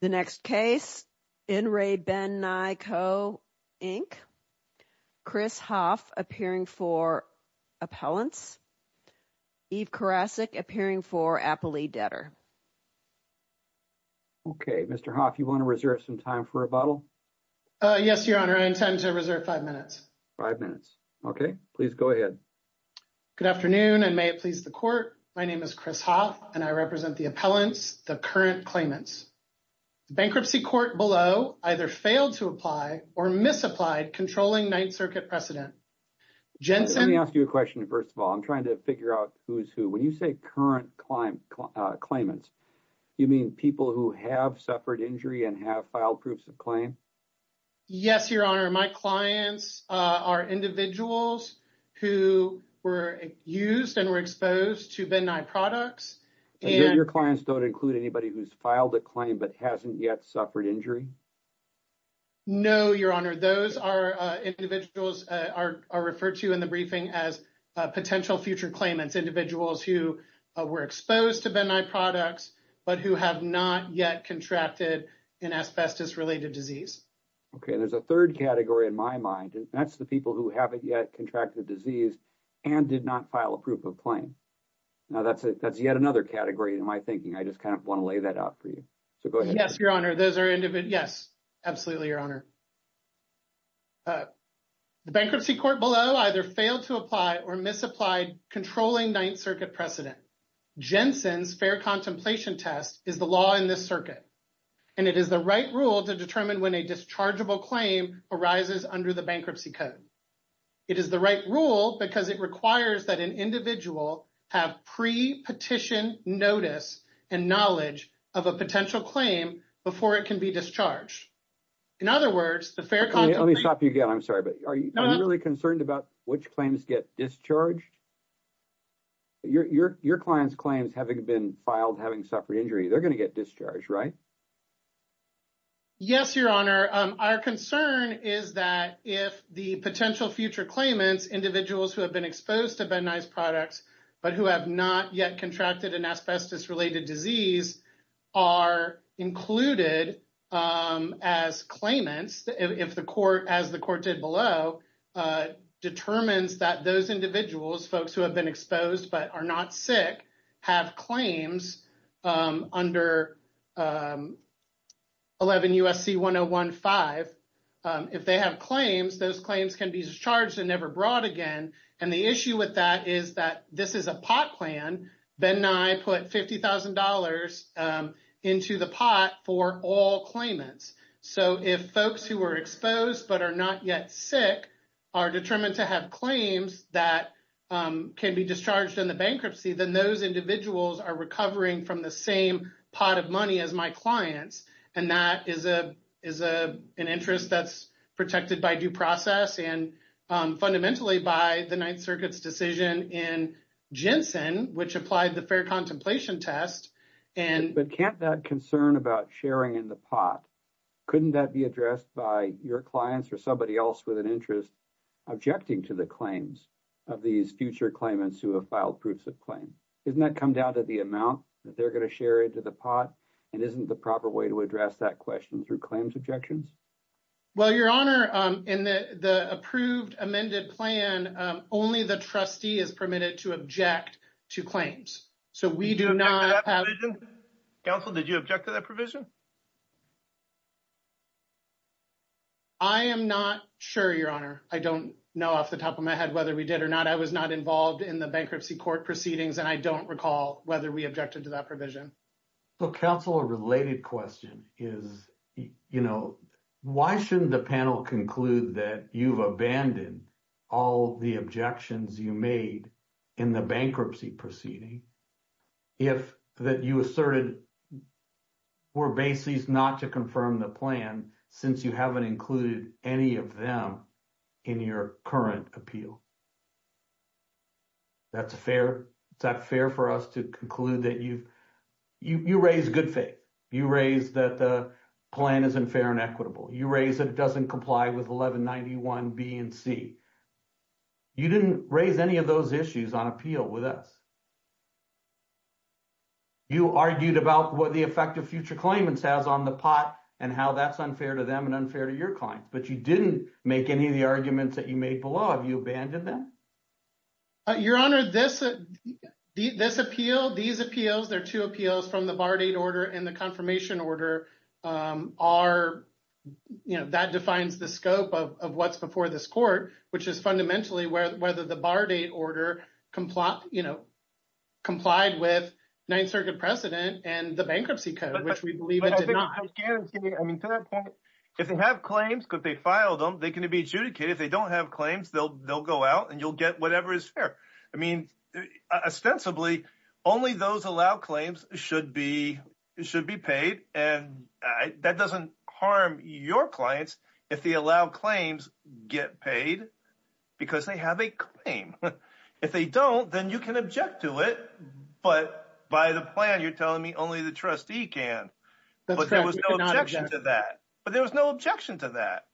The next case, in re Ben Nye Co., Inc., Chris Hoff appearing for appellants, Eve Karasik appearing for appellee debtor. Okay. Mr. Hoff, you want to reserve some time for rebuttal? Yes, Your Honor. I intend to reserve five minutes. Five minutes. Okay. Please go ahead. Good afternoon, and may it please the Court. My name is Chris Hoff, and I represent the appellants, the current claimants. The bankruptcy court below either failed to apply or misapplied controlling Ninth Circuit precedent. Let me ask you a question, first of all. I'm trying to figure out who's who. When you say current claimants, you mean people who have suffered injury and have filed proofs of claim? Yes, Your Honor. My clients are individuals who were used and were exposed to Ben Nye products. And your clients don't include anybody who's filed a claim but hasn't yet suffered injury? No, Your Honor. Those are individuals are referred to in the briefing as potential future claimants, individuals who were exposed to Ben Nye products but who have not yet contracted an asbestos-related disease. Okay. There's a third category in my mind, and that's the people who haven't yet contracted the disease and did not file a proof of claim. Now, that's yet another category in my thinking. I just kind of want to lay that out for you. So, go ahead. Yes, Your Honor. Those are individuals. Yes, absolutely, Your Honor. The bankruptcy court below either failed to apply or misapplied controlling Ninth Circuit precedent. Jensen's fair contemplation test is the law in this circuit, and it is the right rule to determine when a dischargeable claim arises under the bankruptcy code. It is the right rule because it requires that an individual have pre-petition notice and knowledge of a potential claim before it can be discharged. In other words, the fair contemplation... Let me stop you again. I'm sorry, but are you really concerned about which claims get discharged? Your client's claims having been filed having suffered injury, they're going to get discharged, right? Yes, Your Honor. Our concern is that if the potential future claimants, individuals who have been exposed to Ben Nye's products but who have not yet contracted an asbestos-related disease, are included as claimants, if the court, as the court did below, determines that those individuals, folks who have been exposed but are not sick, have claims under 11 U.S.C. 1015, if they have claims, those claims can be discharged and never brought again. And the issue with that is that this is a pot plan. Ben Nye put $50,000 into the pot for all claimants. So if folks who were exposed but are not yet sick are determined to have claims that can be discharged in the bankruptcy, then those individuals are recovering from the same pot of money as my clients. And that is an interest that's protected by due process and fundamentally by the Ninth Circuit's decision in Jensen, which applied the fair contemplation test. But can't that concern about sharing in the pot, couldn't that be addressed by your clients or somebody else with an interest objecting to the claims of these future claimants who have filed proofs of claim? Isn't that come down to the amount that they're going to share into the pot? And isn't the proper way to address that question through claims objections? Well, Your Honor, in the approved amended plan, only the trustee is permitted to object to claims. So we do not have. Counsel, did you object to that provision? I am not sure, Your Honor. I don't know off the top of my head whether we did or not. I was not involved in the bankruptcy court proceedings, and I don't recall whether we objected to that provision. So counsel, a related question is, you know, why shouldn't the panel conclude that you've abandoned all the objections you made in the bankruptcy proceeding? If that you asserted were bases not to confirm the plan, since you haven't included any of them in your current appeal. That's fair. Is that fair for us to conclude that you've, you raised good faith. You raised that the plan is unfair and equitable. You raised that it doesn't comply with 1191B and C. You didn't raise any of those issues on appeal with us. You argued about what the effect of future claimants has on the pot and how that's unfair to them and unfair to your clients, but you didn't make any of the arguments that you made below. Have you abandoned that? Your Honor, this appeal, these appeals, there are two appeals from the bar date order and the confirmation order are, you know, that defines the scope of what's before this court, which is fundamentally whether the bar date order complied with Ninth Circuit precedent and the bankruptcy code, which we believe it did not. I mean, to that point, if they have claims, if they filed them, they can be adjudicated. If they don't have claims, they'll go out and you'll get whatever is fair. I mean, ostensibly, only those allowed claims should be paid. And that doesn't harm your clients if they allow claims get paid because they have a claim. If they don't, then you can object to it. But by the plan, you're telling me only the trustee can. There was no objection to that, but there was no objection to that.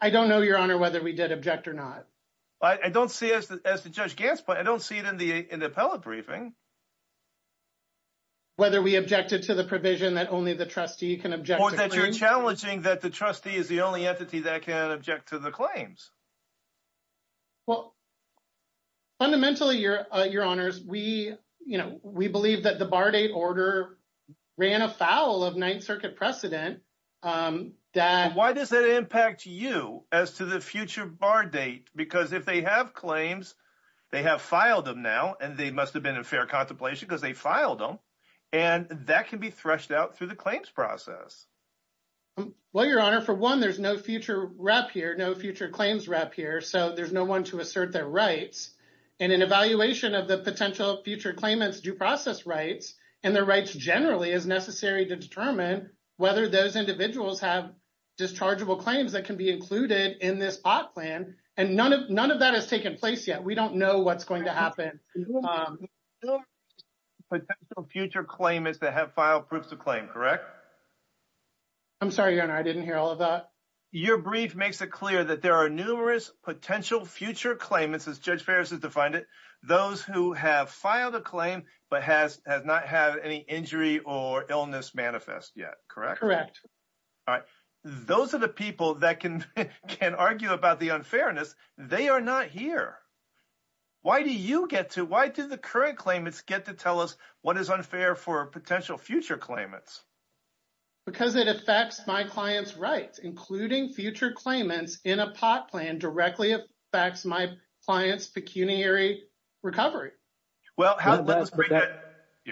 I don't know, Your Honor, whether we did object or not. I don't see it as the Judge Gants, but I don't see it in the appellate briefing. Whether we objected to the provision that only the trustee can object. Or that you're challenging that the trustee is the only entity that can object to the claims. Well, fundamentally, Your Honors, we believe that the bar date order ran afoul of Ninth Circuit precedent. Why does that impact you as to the future bar date? Because if they have claims, they have filed them now, and they must have been in fair contemplation because they filed them. And that can be threshed out through the claims process. Well, Your Honor, for one, there's no future rep here, no future claims rep here, so there's no one to assert their rights. And an evaluation of the potential future claimant's due process rights and their rights generally is necessary to determine whether those individuals have dischargeable claims that can be included in this op plan. And none of that has taken place yet. We don't know what's going to happen. There are numerous potential future claimants that have filed proofs of claim, correct? I'm sorry, Your Honor, I didn't hear all of that. Your brief makes it clear that there are numerous potential future claimants, as Judge Ferris has defined it, those who have filed a claim but have not had any injury or illness manifest yet, correct? Correct. All right. Those are the people that can argue about the unfairness. They are not here. Why do you get to, why do the current claimants get to tell us what is unfair for potential future claimants? Because it affects my client's rights, including future claimants in a pot plan directly affects my client's pecuniary recovery. Well, how does that…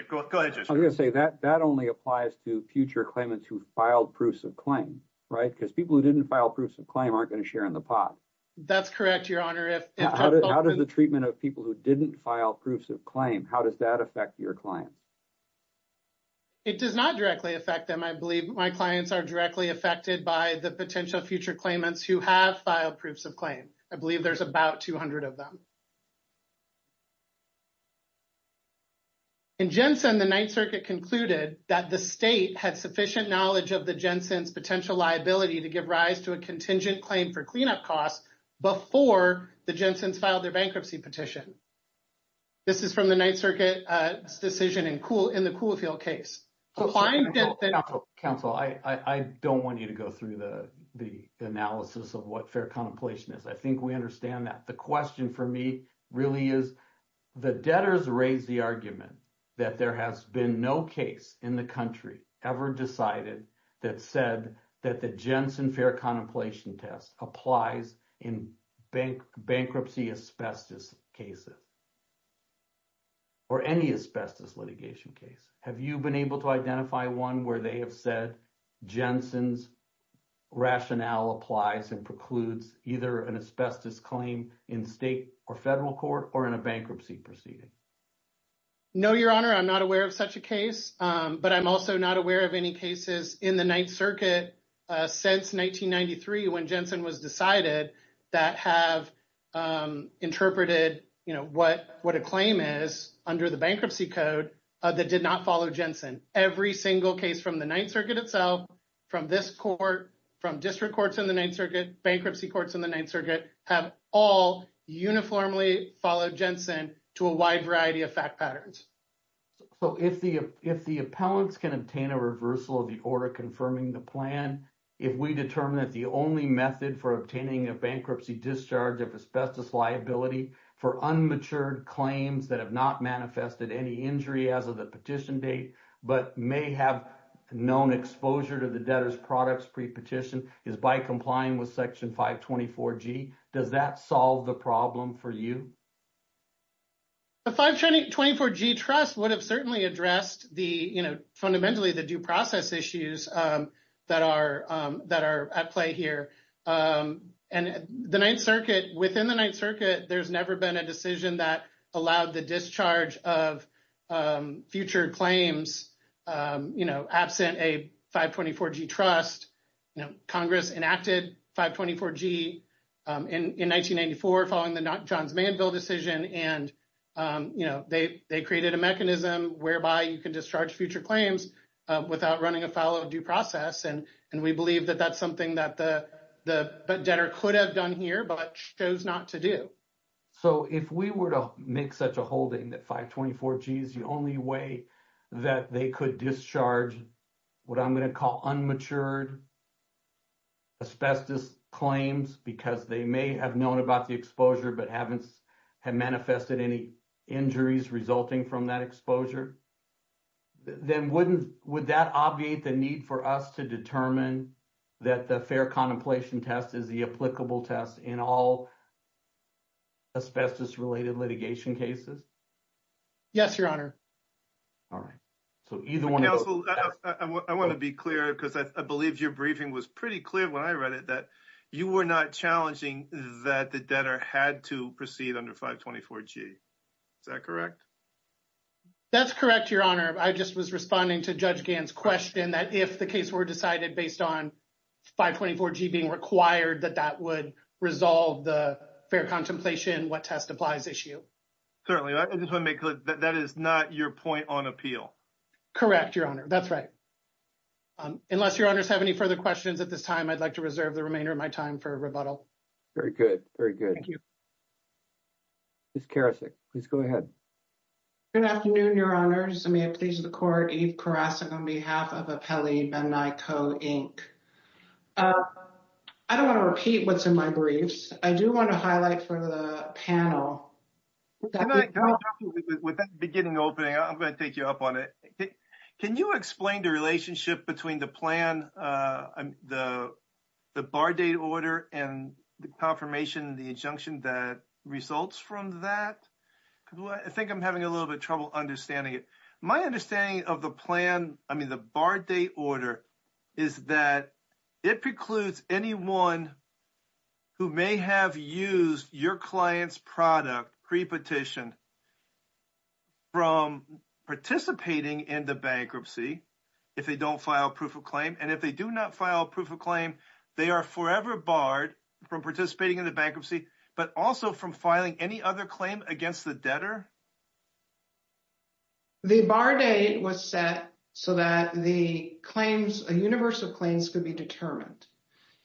Go ahead, Judge Ferris. I was going to say that only applies to future claimants who filed proofs of claim, right? Because people who didn't file proofs of claim aren't going to share in the pot. That's correct, Your Honor. How does the treatment of people who didn't file proofs of claim, how does that affect your clients? It does not directly affect them. I believe my clients are directly affected by the potential future claimants who have filed proofs of claim. I believe there's about 200 of them. In Jensen, the Ninth Circuit concluded that the state had sufficient knowledge of the Jensen's potential liability to give rise to a contingent claim for cleanup costs before the Jensen's filed their bankruptcy petition. This is from the Ninth Circuit's decision in the Coolfield case. Counsel, I don't want you to go through the analysis of what fair contemplation is. I think we understand that. The question for me really is the debtors raised the argument that there has been no case in the country ever decided that said that the Jensen fair contemplation test applies in bankruptcy asbestos cases or any asbestos litigation case. Have you been able to identify one where they have said Jensen's rationale applies and precludes either an asbestos claim in state or federal court or in a bankruptcy proceeding? No, Your Honor. I'm not aware of such a case, but I'm also not aware of any cases in the Ninth Circuit since 1993 when Jensen was decided that have interpreted what a claim is under the bankruptcy code that did not follow Jensen. Every single case from the Ninth Circuit itself, from this court, from district courts in the Ninth Circuit, bankruptcy courts in the Ninth Circuit have all uniformly followed Jensen to a wide variety of fact patterns. So if the appellants can obtain a reversal of the order confirming the plan, if we determine that the only method for obtaining a bankruptcy discharge of asbestos liability for unmatured claims that have not manifested any injury as of the petition date, but may have known exposure to the debtors products pre-petition is by complying with Section 524G, does that solve the problem for you? The 524G trust would have certainly addressed the, you know, fundamentally the due process issues that are at play here. And the Ninth Circuit, within the Ninth Circuit, there's never been a decision that allowed the discharge of future claims, you know, absent a 524G trust. You know, Congress enacted 524G in 1994 following the Johns Manville decision. And, you know, they created a mechanism whereby you can discharge future claims without running a follow due process. And we believe that that's something that the debtor could have done here, but chose not to do. So if we were to make such a holding that 524G is the only way that they could discharge what I'm going to call unmatured asbestos claims because they may have known about the exposure but haven't manifested any injuries resulting from that exposure, then wouldn't, would that obviate the need for us to determine that the fair contemplation test is the applicable test in all asbestos-related litigation cases? Yes, Your Honor. All right. So either one of those. Counsel, I want to be clear because I believe your briefing was pretty clear when I read it that you were not challenging that the debtor had to proceed under 524G. Is that correct? That's correct, Your Honor. I just was responding to Judge Gant's question that if the case were decided based on 524G being required, that that would resolve the fair contemplation, what test applies issue. Certainly. I just want to make clear that that is not your point on appeal. Correct, Your Honor. That's right. Unless Your Honors have any further questions at this time, I'd like to reserve the remainder of my time for rebuttal. Very good. Very good. Ms. Karasik, please go ahead. Good afternoon, Your Honors. May it please the Court, Eve Karasik on behalf of Appellee Ben Niko, Inc. I don't want to repeat what's in my briefs. I do want to highlight for the panel. With that beginning opening, I'm going to take you up on it. Can you explain the relationship between the plan, the bar date order and the confirmation, the injunction that results from that? I think I'm having a little bit trouble understanding it. My understanding of the plan, I mean, the bar date order, is that it precludes anyone who may have used your client's product pre-petition from participating in the bankruptcy if they don't file a proof of claim. And if they do not file a proof of claim, they are forever barred from participating in the bankruptcy, but also from filing any other claim against the debtor? The bar date was set so that the claims, universal claims, could be determined.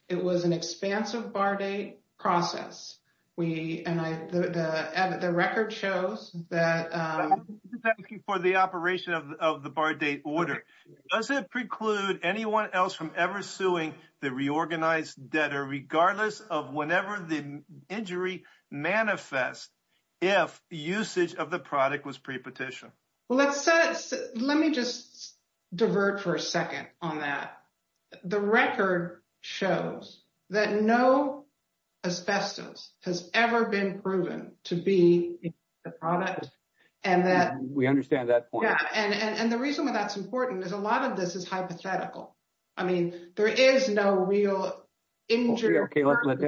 It was an expansive bar date process. Does it preclude anyone else from ever suing the reorganized debtor, regardless of whenever the injury manifests, if usage of the product was pre-petition? Let me just divert for a second on that. The record shows that no asbestos has ever been proven to be the product. We understand that point. And the reason why that's important is a lot of this is hypothetical. I mean, there is no real injury. Okay, let's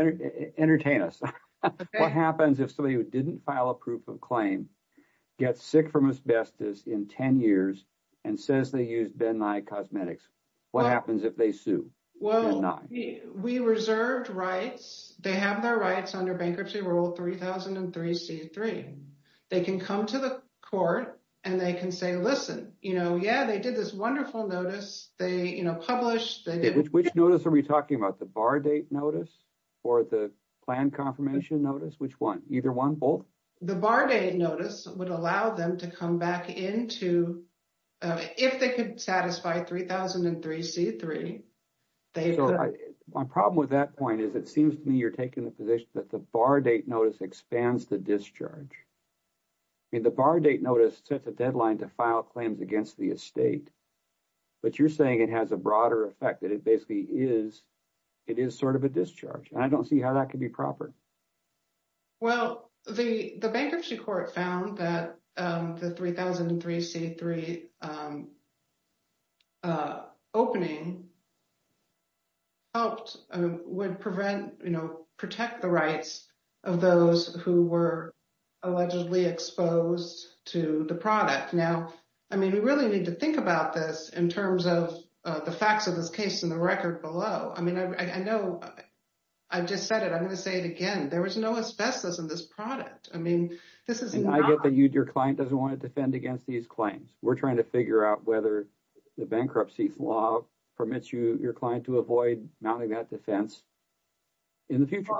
entertain us. What happens if somebody who didn't file a proof of claim gets sick from asbestos in 10 years and says they used Ben Nye cosmetics? What happens if they sue? Well, we reserved rights. They have their rights under Bankruptcy Rule 3003C3. They can come to the court and they can say, listen, yeah, they did this wonderful notice. They published. Which notice are we talking about, the bar date notice or the plan confirmation notice? Which one? Either one, both? The bar date notice would allow them to come back into, if they could satisfy 3003C3, they could. My problem with that point is it seems to me you're taking the position that the bar date notice expands the discharge. I mean, the bar date notice sets a deadline to file claims against the estate. But you're saying it has a broader effect that it basically is, it is sort of a discharge. And I don't see how that could be proper. Well, the bankruptcy court found that the 3003C3 opening helped would prevent, you know, protect the rights of those who were allegedly exposed to the product. Now, I mean, we really need to think about this in terms of the facts of this case in the record below. I mean, I know I've just said it. I'm going to say it again. There was no asbestos in this product. I mean, this is not. And I get that your client doesn't want to defend against these claims. We're trying to figure out whether the bankruptcy law permits you, your client, to avoid mounting that defense in the future.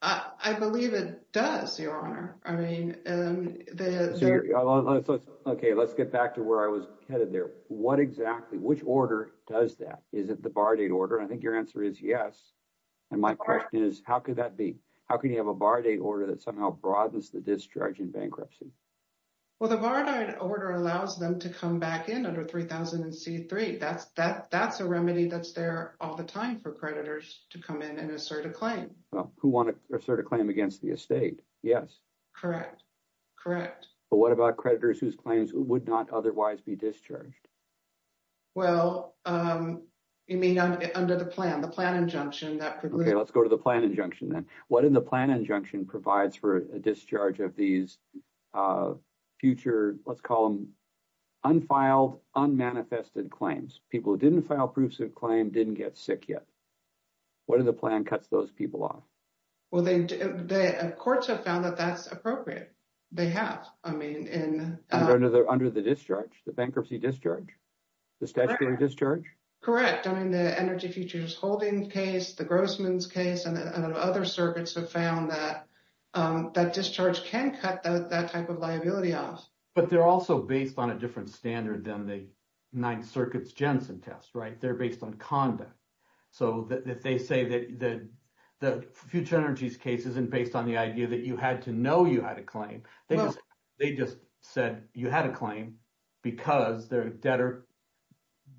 I believe it does, Your Honor. I mean, the. Okay, let's get back to where I was headed there. What exactly, which order does that? Is it the bar date order? I think your answer is yes. And my question is, how could that be? How can you have a bar date order that somehow broadens the discharge in bankruptcy? Well, the bar date order allows them to come back in under 3003C3. That's a remedy that's there all the time for creditors to come in and assert a claim. Who want to assert a claim against the estate? Yes. Correct. Correct. But what about creditors whose claims would not otherwise be discharged? Well, you mean under the plan, the plan injunction that. Okay, let's go to the plan injunction then. What in the plan injunction provides for a discharge of these future, let's call them unfiled, unmanifested claims? People who didn't file proofs of claim didn't get sick yet. What are the plan cuts those people off? Well, the courts have found that that's appropriate. They have, I mean, in. Under the discharge, the bankruptcy discharge, the statutory discharge? Correct. I mean, the Energy Futures Holding case, the Grossman's case, and other circuits have found that that discharge can cut that type of liability off. But they're also based on a different standard than the Ninth Circuit's Jensen test, right? They're based on conduct. So that they say that the future energy's case isn't based on the idea that you had to know you had a claim. They just said you had a claim because their debtor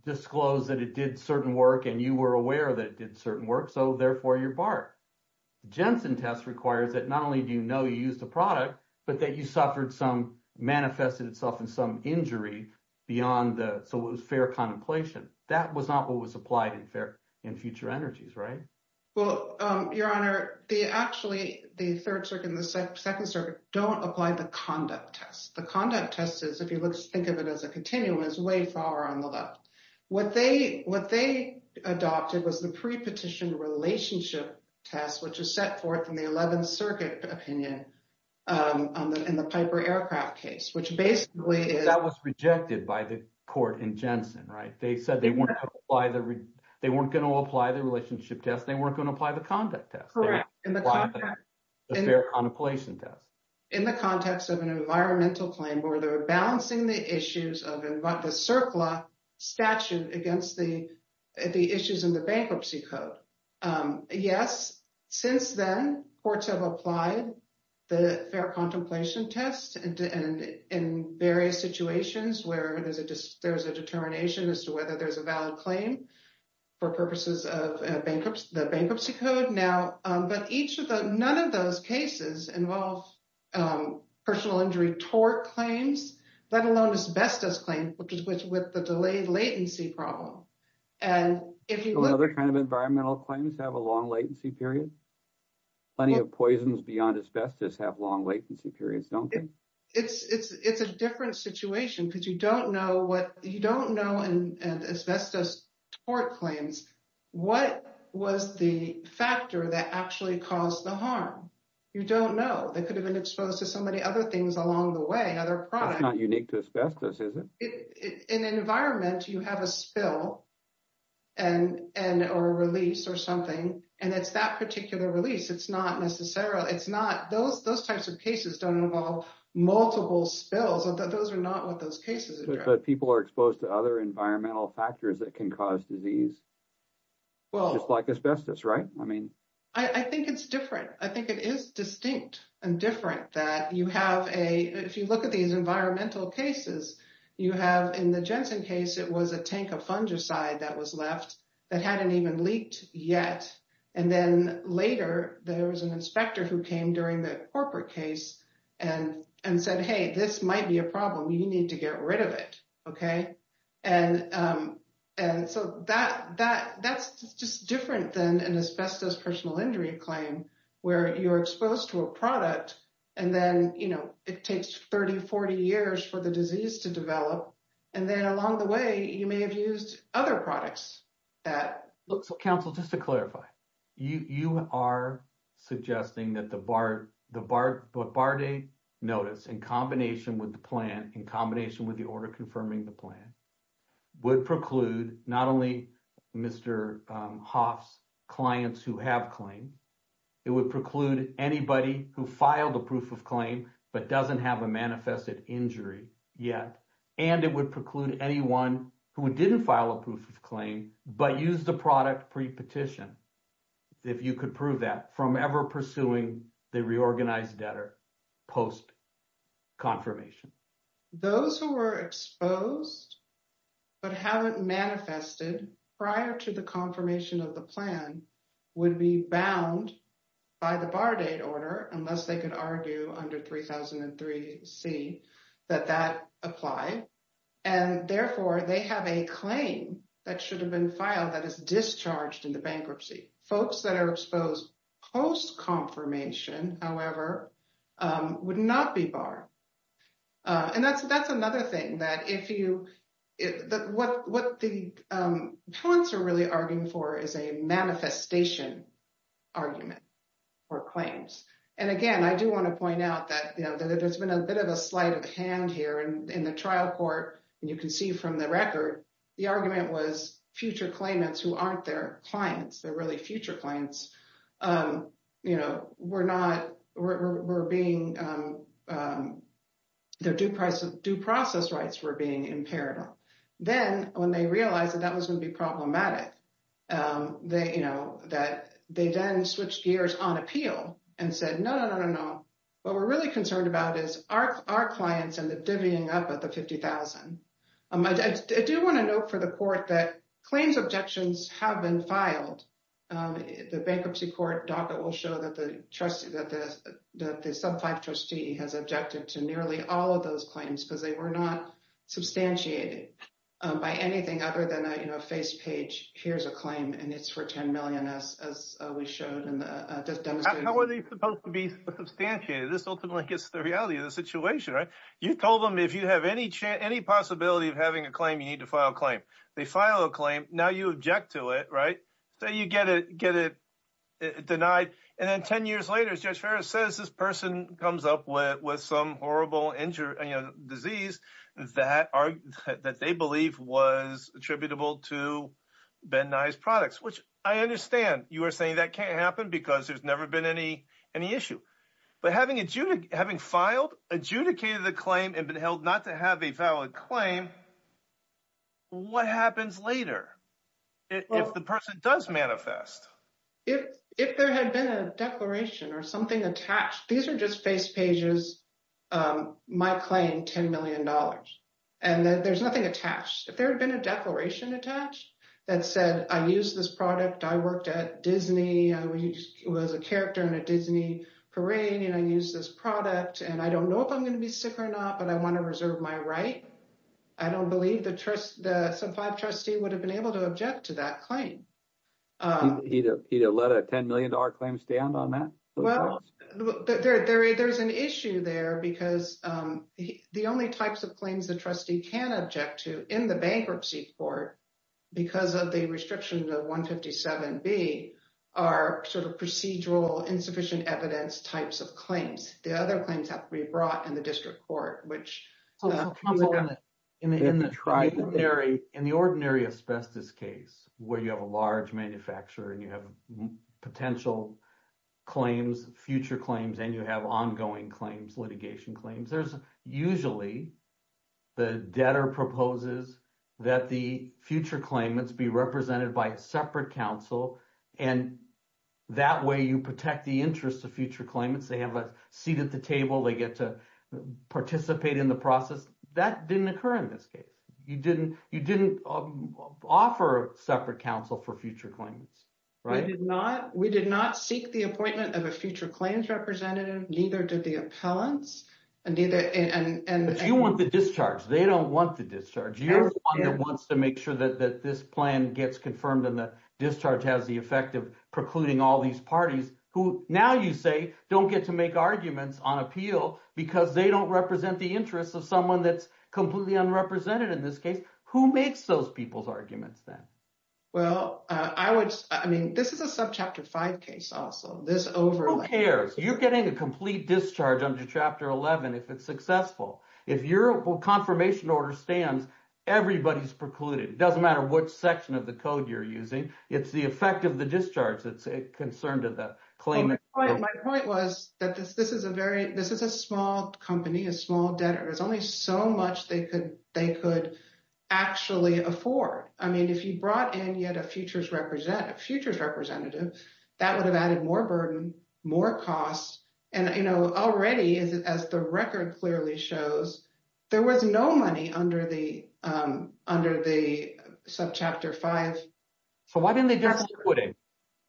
disclosed that it did certain work and you were aware that it did certain work. So therefore, you're barred. Jensen test requires that not only do you know you use the product, but that you suffered some manifested itself in some injury beyond the. So it was fair contemplation. That was not what was applied in fair in future energies. Right. Well, Your Honor, the actually the third circuit, the second circuit don't apply the conduct test. The conduct test is if you think of it as a continuous way far on the left. What they what they adopted was the pre petition relationship test, which is set forth in the 11th Circuit opinion in the Piper aircraft case, which basically is. That was rejected by the court in Jensen, right? They said they want to apply the they weren't going to apply the relationship test. They weren't going to apply the conduct test in the fair contemplation test in the context of an environmental claim where they were balancing the issues of the CERCLA statute against the issues in the bankruptcy code. Yes. Since then, courts have applied the fair contemplation test and in various situations where there's a there's a determination as to whether there's a valid claim for purposes of bankruptcy, the bankruptcy code. But each of the none of those cases involve personal injury tort claims, let alone asbestos claim, which is which with the delayed latency problem. And if you look at other kind of environmental claims have a long latency period, plenty of poisons beyond asbestos have long latency periods. It's it's it's a different situation because you don't know what you don't know. And asbestos tort claims, what was the factor that actually caused the harm? You don't know. They could have been exposed to so many other things along the way. It's not unique to asbestos, is it? In an environment, you have a spill and or a release or something. And it's that particular release. It's not necessarily it's not those those types of cases don't involve multiple spills. But people are exposed to other environmental factors that can cause disease. Well, it's like asbestos, right? I mean, I think it's different. I think it is distinct and different that you have a if you look at these environmental cases, you have in the Jensen case, it was a tank of fungicide that was left that hadn't even leaked yet. And then later there was an inspector who came during the corporate case and and said, hey, this might be a problem. You need to get rid of it. Okay. And and so that that that's just different than an asbestos personal injury claim where you're exposed to a product. And then, you know, it takes 30, 40 years for the disease to develop. And then along the way, you may have used other products. So counsel, just to clarify, you are suggesting that the BART, the BART, the BART notice in combination with the plan in combination with the order confirming the plan would preclude not only Mr. Hoff's clients who have claim, it would preclude anybody who filed a proof of claim, but doesn't have a manifested injury yet. And it would preclude anyone who didn't file a proof of claim, but use the product pre-petition, if you could prove that from ever pursuing the reorganized debtor post confirmation. Those who were exposed but haven't manifested prior to the confirmation of the plan would be bound by the BART date order unless they could argue under 3003 C that that apply. And therefore, they have a claim that should have been filed that is discharged in the bankruptcy. Folks that are exposed post confirmation, however, would not be BART. And that's, that's another thing that if you, that what, what the points are really arguing for is a manifestation argument or claims. And again, I do want to point out that, you know, there's been a bit of a slight of hand here and in the trial court. And you can see from the record, the argument was future claimants who aren't their clients, they're really future clients, you know, we're not, we're being, their due process rights were being imperative. Then when they realized that that was going to be problematic, they, you know, that they then switched gears on appeal and said, no, no, no, no, no. What we're really concerned about is our, our clients and the divvying up at the 50,000. I do want to note for the court that claims objections have been filed. The bankruptcy court docket will show that the trustee that the sub five trustee has objected to nearly all of those claims because they were not substantiated by anything other than a, you know, a face page. Here's a claim and it's for 10 million as, as we showed in the demonstration. How are they supposed to be substantiated? This ultimately gets the reality of the situation, right? You told them if you have any chance, any possibility of having a claim, you need to file a claim. They file a claim. Now you object to it, right? So you get it, get it denied. And then 10 years later, as judge Ferris says, this person comes up with, with some horrible injury disease that are, that they believe was attributable to Ben Nye's products, which I understand you are saying that can't happen because there's never been any, any issue. But having adjudic, having filed, adjudicated the claim and been held not to have a valid claim, what happens later if the person does manifest? If, if there had been a declaration or something attached, these are just face pages. My claim, $10 million. And there's nothing attached. If there had been a declaration attached that said, I use this product, I worked at Disney. I was a character in a Disney parade and I use this product and I don't know if I'm going to be sick or not, but I want to reserve my right. I don't believe the trust, the sub five trustee would have been able to object to that claim. He'd have let a $10 million claim stand on that? Well, there's an issue there because the only types of claims the trustee can object to in the bankruptcy court, because of the restriction of 157B, are sort of procedural insufficient evidence types of claims. The other claims have to be brought in the district court, which. In the ordinary asbestos case, where you have a large manufacturer and you have potential claims, future claims, and you have ongoing claims, litigation claims, there's usually the debtor proposes that the future claimants be represented by a separate counsel. And that way you protect the interest of future claimants. They have a seat at the table, they get to participate in the process. That didn't occur in this case. You didn't offer separate counsel for future claimants, right? We did not seek the appointment of a future claims representative, neither did the appellants. But you want the discharge. They don't want the discharge. You're the one that wants to make sure that this plan gets confirmed and the discharge has the effect of precluding all these parties who, now you say, don't get to make arguments on appeal because they don't represent the interest of someone that's completely unrepresented in this case. Who makes those people's arguments then? Well, I mean, this is a subchapter five case also. Who cares? You're getting a complete discharge under Chapter 11 if it's successful. If your confirmation order stands, everybody's precluded. It doesn't matter what section of the code you're using. It's the effect of the discharge that's concerned to the claimant. My point was that this is a small company, a small debtor. There's only so much they could actually afford. I mean, if you brought in yet a futures representative, that would have added more burden, more costs. And already, as the record clearly shows, there was no money under the subchapter five. So why didn't they just liquidate?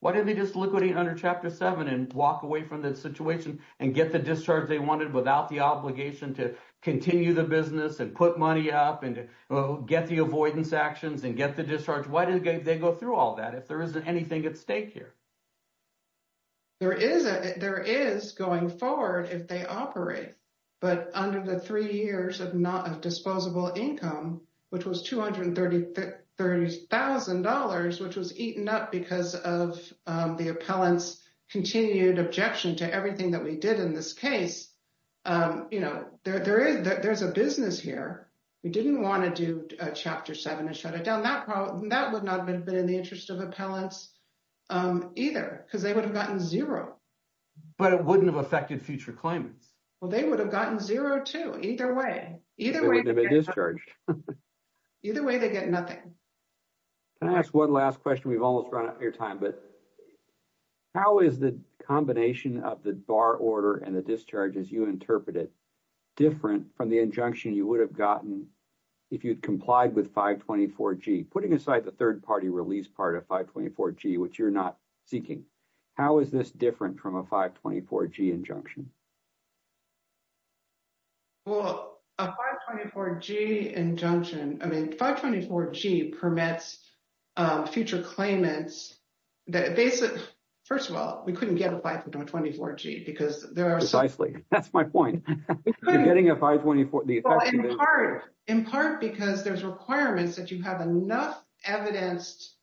Why didn't they just liquidate under Chapter seven and walk away from the situation and get the discharge they wanted without the obligation to continue the business and put money up and get the avoidance actions and get the discharge? Why did they go through all that if there isn't anything at stake here? There is going forward if they operate, but under the three years of disposable income, which was $230,000, which was eaten up because of the appellant's continued objection to everything that we did in this case. There's a business here. We didn't want to do Chapter seven and shut it down. That would not have been in the interest of appellants either because they would have gotten zero. But it wouldn't have affected future claimants. Well, they would have gotten zero too, either way. Either way, they'd be discharged. Either way, they get nothing. Can I ask one last question? We've almost run out of your time, but how is the combination of the bar order and the discharges you interpreted different from the injunction you would have gotten if you'd complied with 524G? Putting aside the third-party release part of 524G, which you're not seeking, how is this different from a 524G injunction? Well, a 524G injunction — I mean, 524G permits future claimants that basically — first of all, we couldn't get a 524G because there are — Precisely. That's my point. You're getting a 524 — In part because there's requirements that you have enough evidenced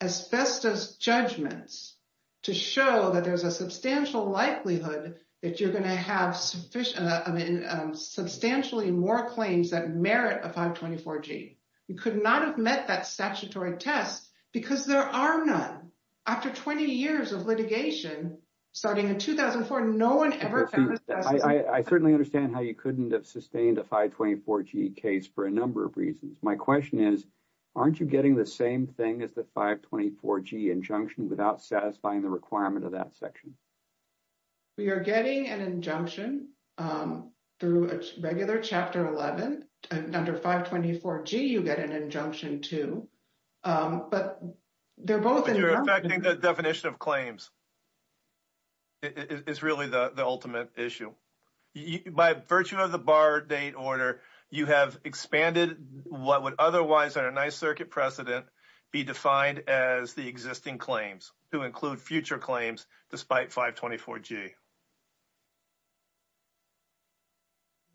asbestos judgments to show that there's a substantial likelihood that you're going to have substantially more claims that merit a 524G. You could not have met that statutory test because there are none. After 20 years of litigation, starting in 2004, no one ever found asbestos. I certainly understand how you couldn't have sustained a 524G case for a number of reasons. My question is, aren't you getting the same thing as the 524G injunction without satisfying the requirement of that section? We are getting an injunction through a regular Chapter 11, and under 524G, you get an injunction too. But they're both — But you're affecting the definition of claims. It's really the ultimate issue. By virtue of the bar date order, you have expanded what would otherwise under 9th Circuit precedent be defined as the existing claims to include future claims despite 524G. Thank you.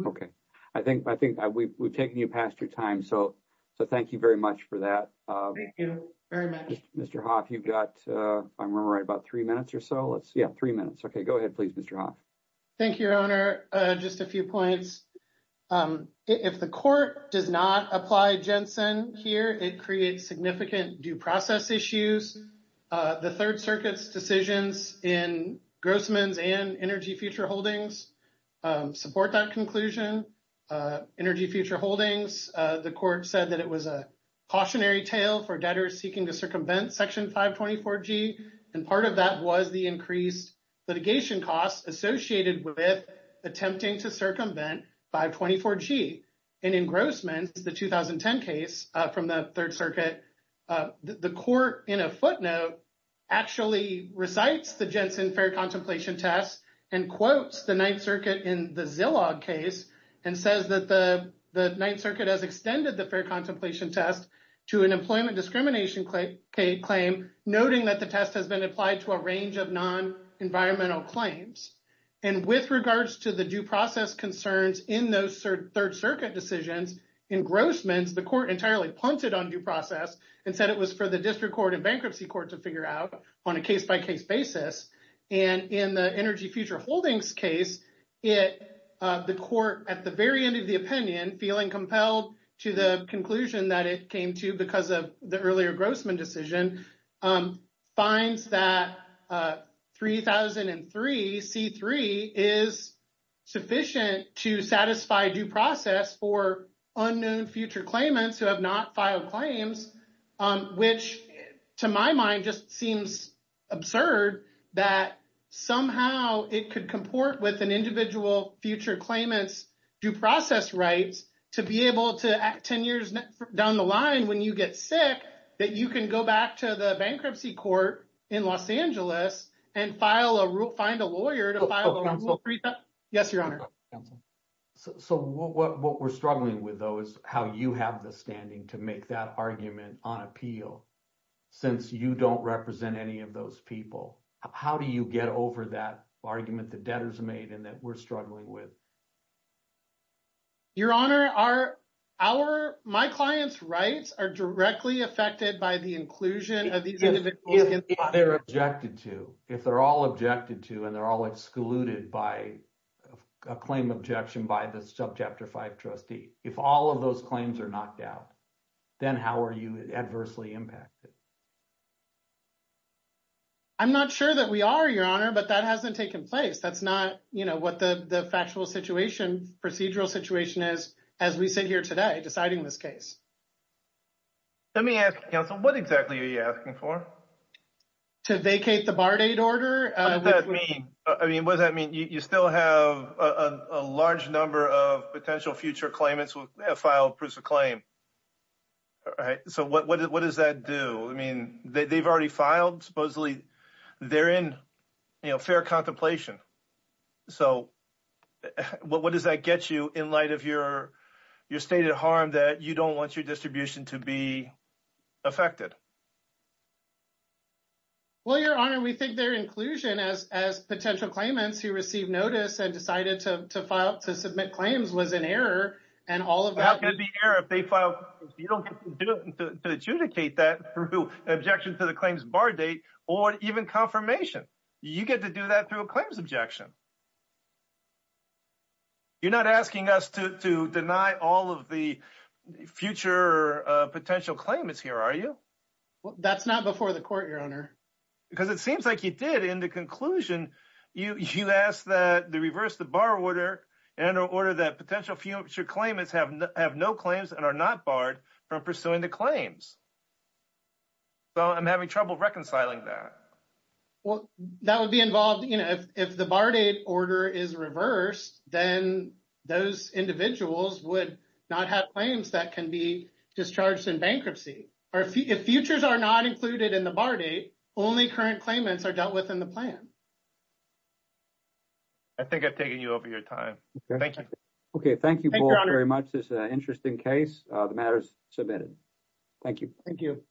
Okay. I think we've taken you past your time, so thank you very much for that. Thank you very much. Mr. Hoff, you've got — I'm going to write about three minutes or so. Let's — yeah, three minutes. Okay. Go ahead, please, Mr. Hoff. Thank you, Your Honor. Just a few points. If the court does not apply Jensen here, it creates significant due process issues. The Third Circuit's decisions in Grossman's and Energy Future Holdings support that conclusion. Energy Future Holdings, the court said that it was a cautionary tale for debtors seeking to circumvent Section 524G. And part of that was the increased litigation costs associated with attempting to circumvent 524G. In Grossman's, the 2010 case from the Third Circuit, the court in a footnote actually recites the Jensen fair contemplation test and quotes the 9th Circuit in the Zillow case and says that the 9th Circuit has extended the fair contemplation test to an employment discrimination claim, noting that the test has been applied to a range of non-environmental claims. And with regards to the due process concerns in those Third Circuit decisions, in Grossman's, the court entirely punted on due process and said it was for the district court and bankruptcy court to figure out on a case-by-case basis. And in the Energy Future Holdings case, the court, at the very end of the opinion, feeling compelled to the conclusion that it came to because of the earlier Grossman decision, finds that 3003C3 is sufficient to satisfy due process for unknown future claimants who have not filed claims, which, to my mind, just seems absurd that somehow it could comport with an individual future claimant's due process rights to be able to act 10 years down the line when you get sick, that you can go back to the bankruptcy court in Los Angeles and find a lawyer to file a- Yes, Your Honor. Counsel. So what we're struggling with, though, is how you have the standing to make that argument on appeal since you don't represent any of those people. How do you get over that argument the debtors made and that we're struggling with? Your Honor, our – my client's rights are directly affected by the inclusion of these individuals. If they're objected to, if they're all objected to and they're all excluded by a claim objection by the Subchapter 5 trustee, if all of those claims are knocked out, then how are you adversely impacted? I'm not sure that we are, Your Honor, but that hasn't taken place. That's not what the factual situation, procedural situation is as we sit here today deciding this case. Let me ask, Counsel, what exactly are you asking for? To vacate the bar date order. What does that mean? I mean, what does that mean? You still have a large number of potential future claimants who have filed proofs of claim. So what does that do? I mean, they've already filed supposedly. They're in fair contemplation. So what does that get you in light of your stated harm that you don't want your distribution to be affected? Well, Your Honor, we think their inclusion as potential claimants who received notice and decided to submit claims was an error. How can it be an error if they filed proofs? You don't get to adjudicate that through objection to the claims bar date or even confirmation. You get to do that through a claims objection. You're not asking us to deny all of the future potential claimants here, are you? That's not before the court, Your Honor. Because it seems like you did. In the conclusion, you asked that they reverse the bar order in order that potential future claimants have no claims and are not barred from pursuing the claims. So I'm having trouble reconciling that. Well, that would be involved if the bar date order is reversed, then those individuals would not have claims that can be discharged in bankruptcy. If futures are not included in the bar date, only current claimants are dealt with in the plan. I think I've taken you over your time. Thank you. Okay, thank you both very much. This is an interesting case. The matter is submitted. Thank you. Thank you.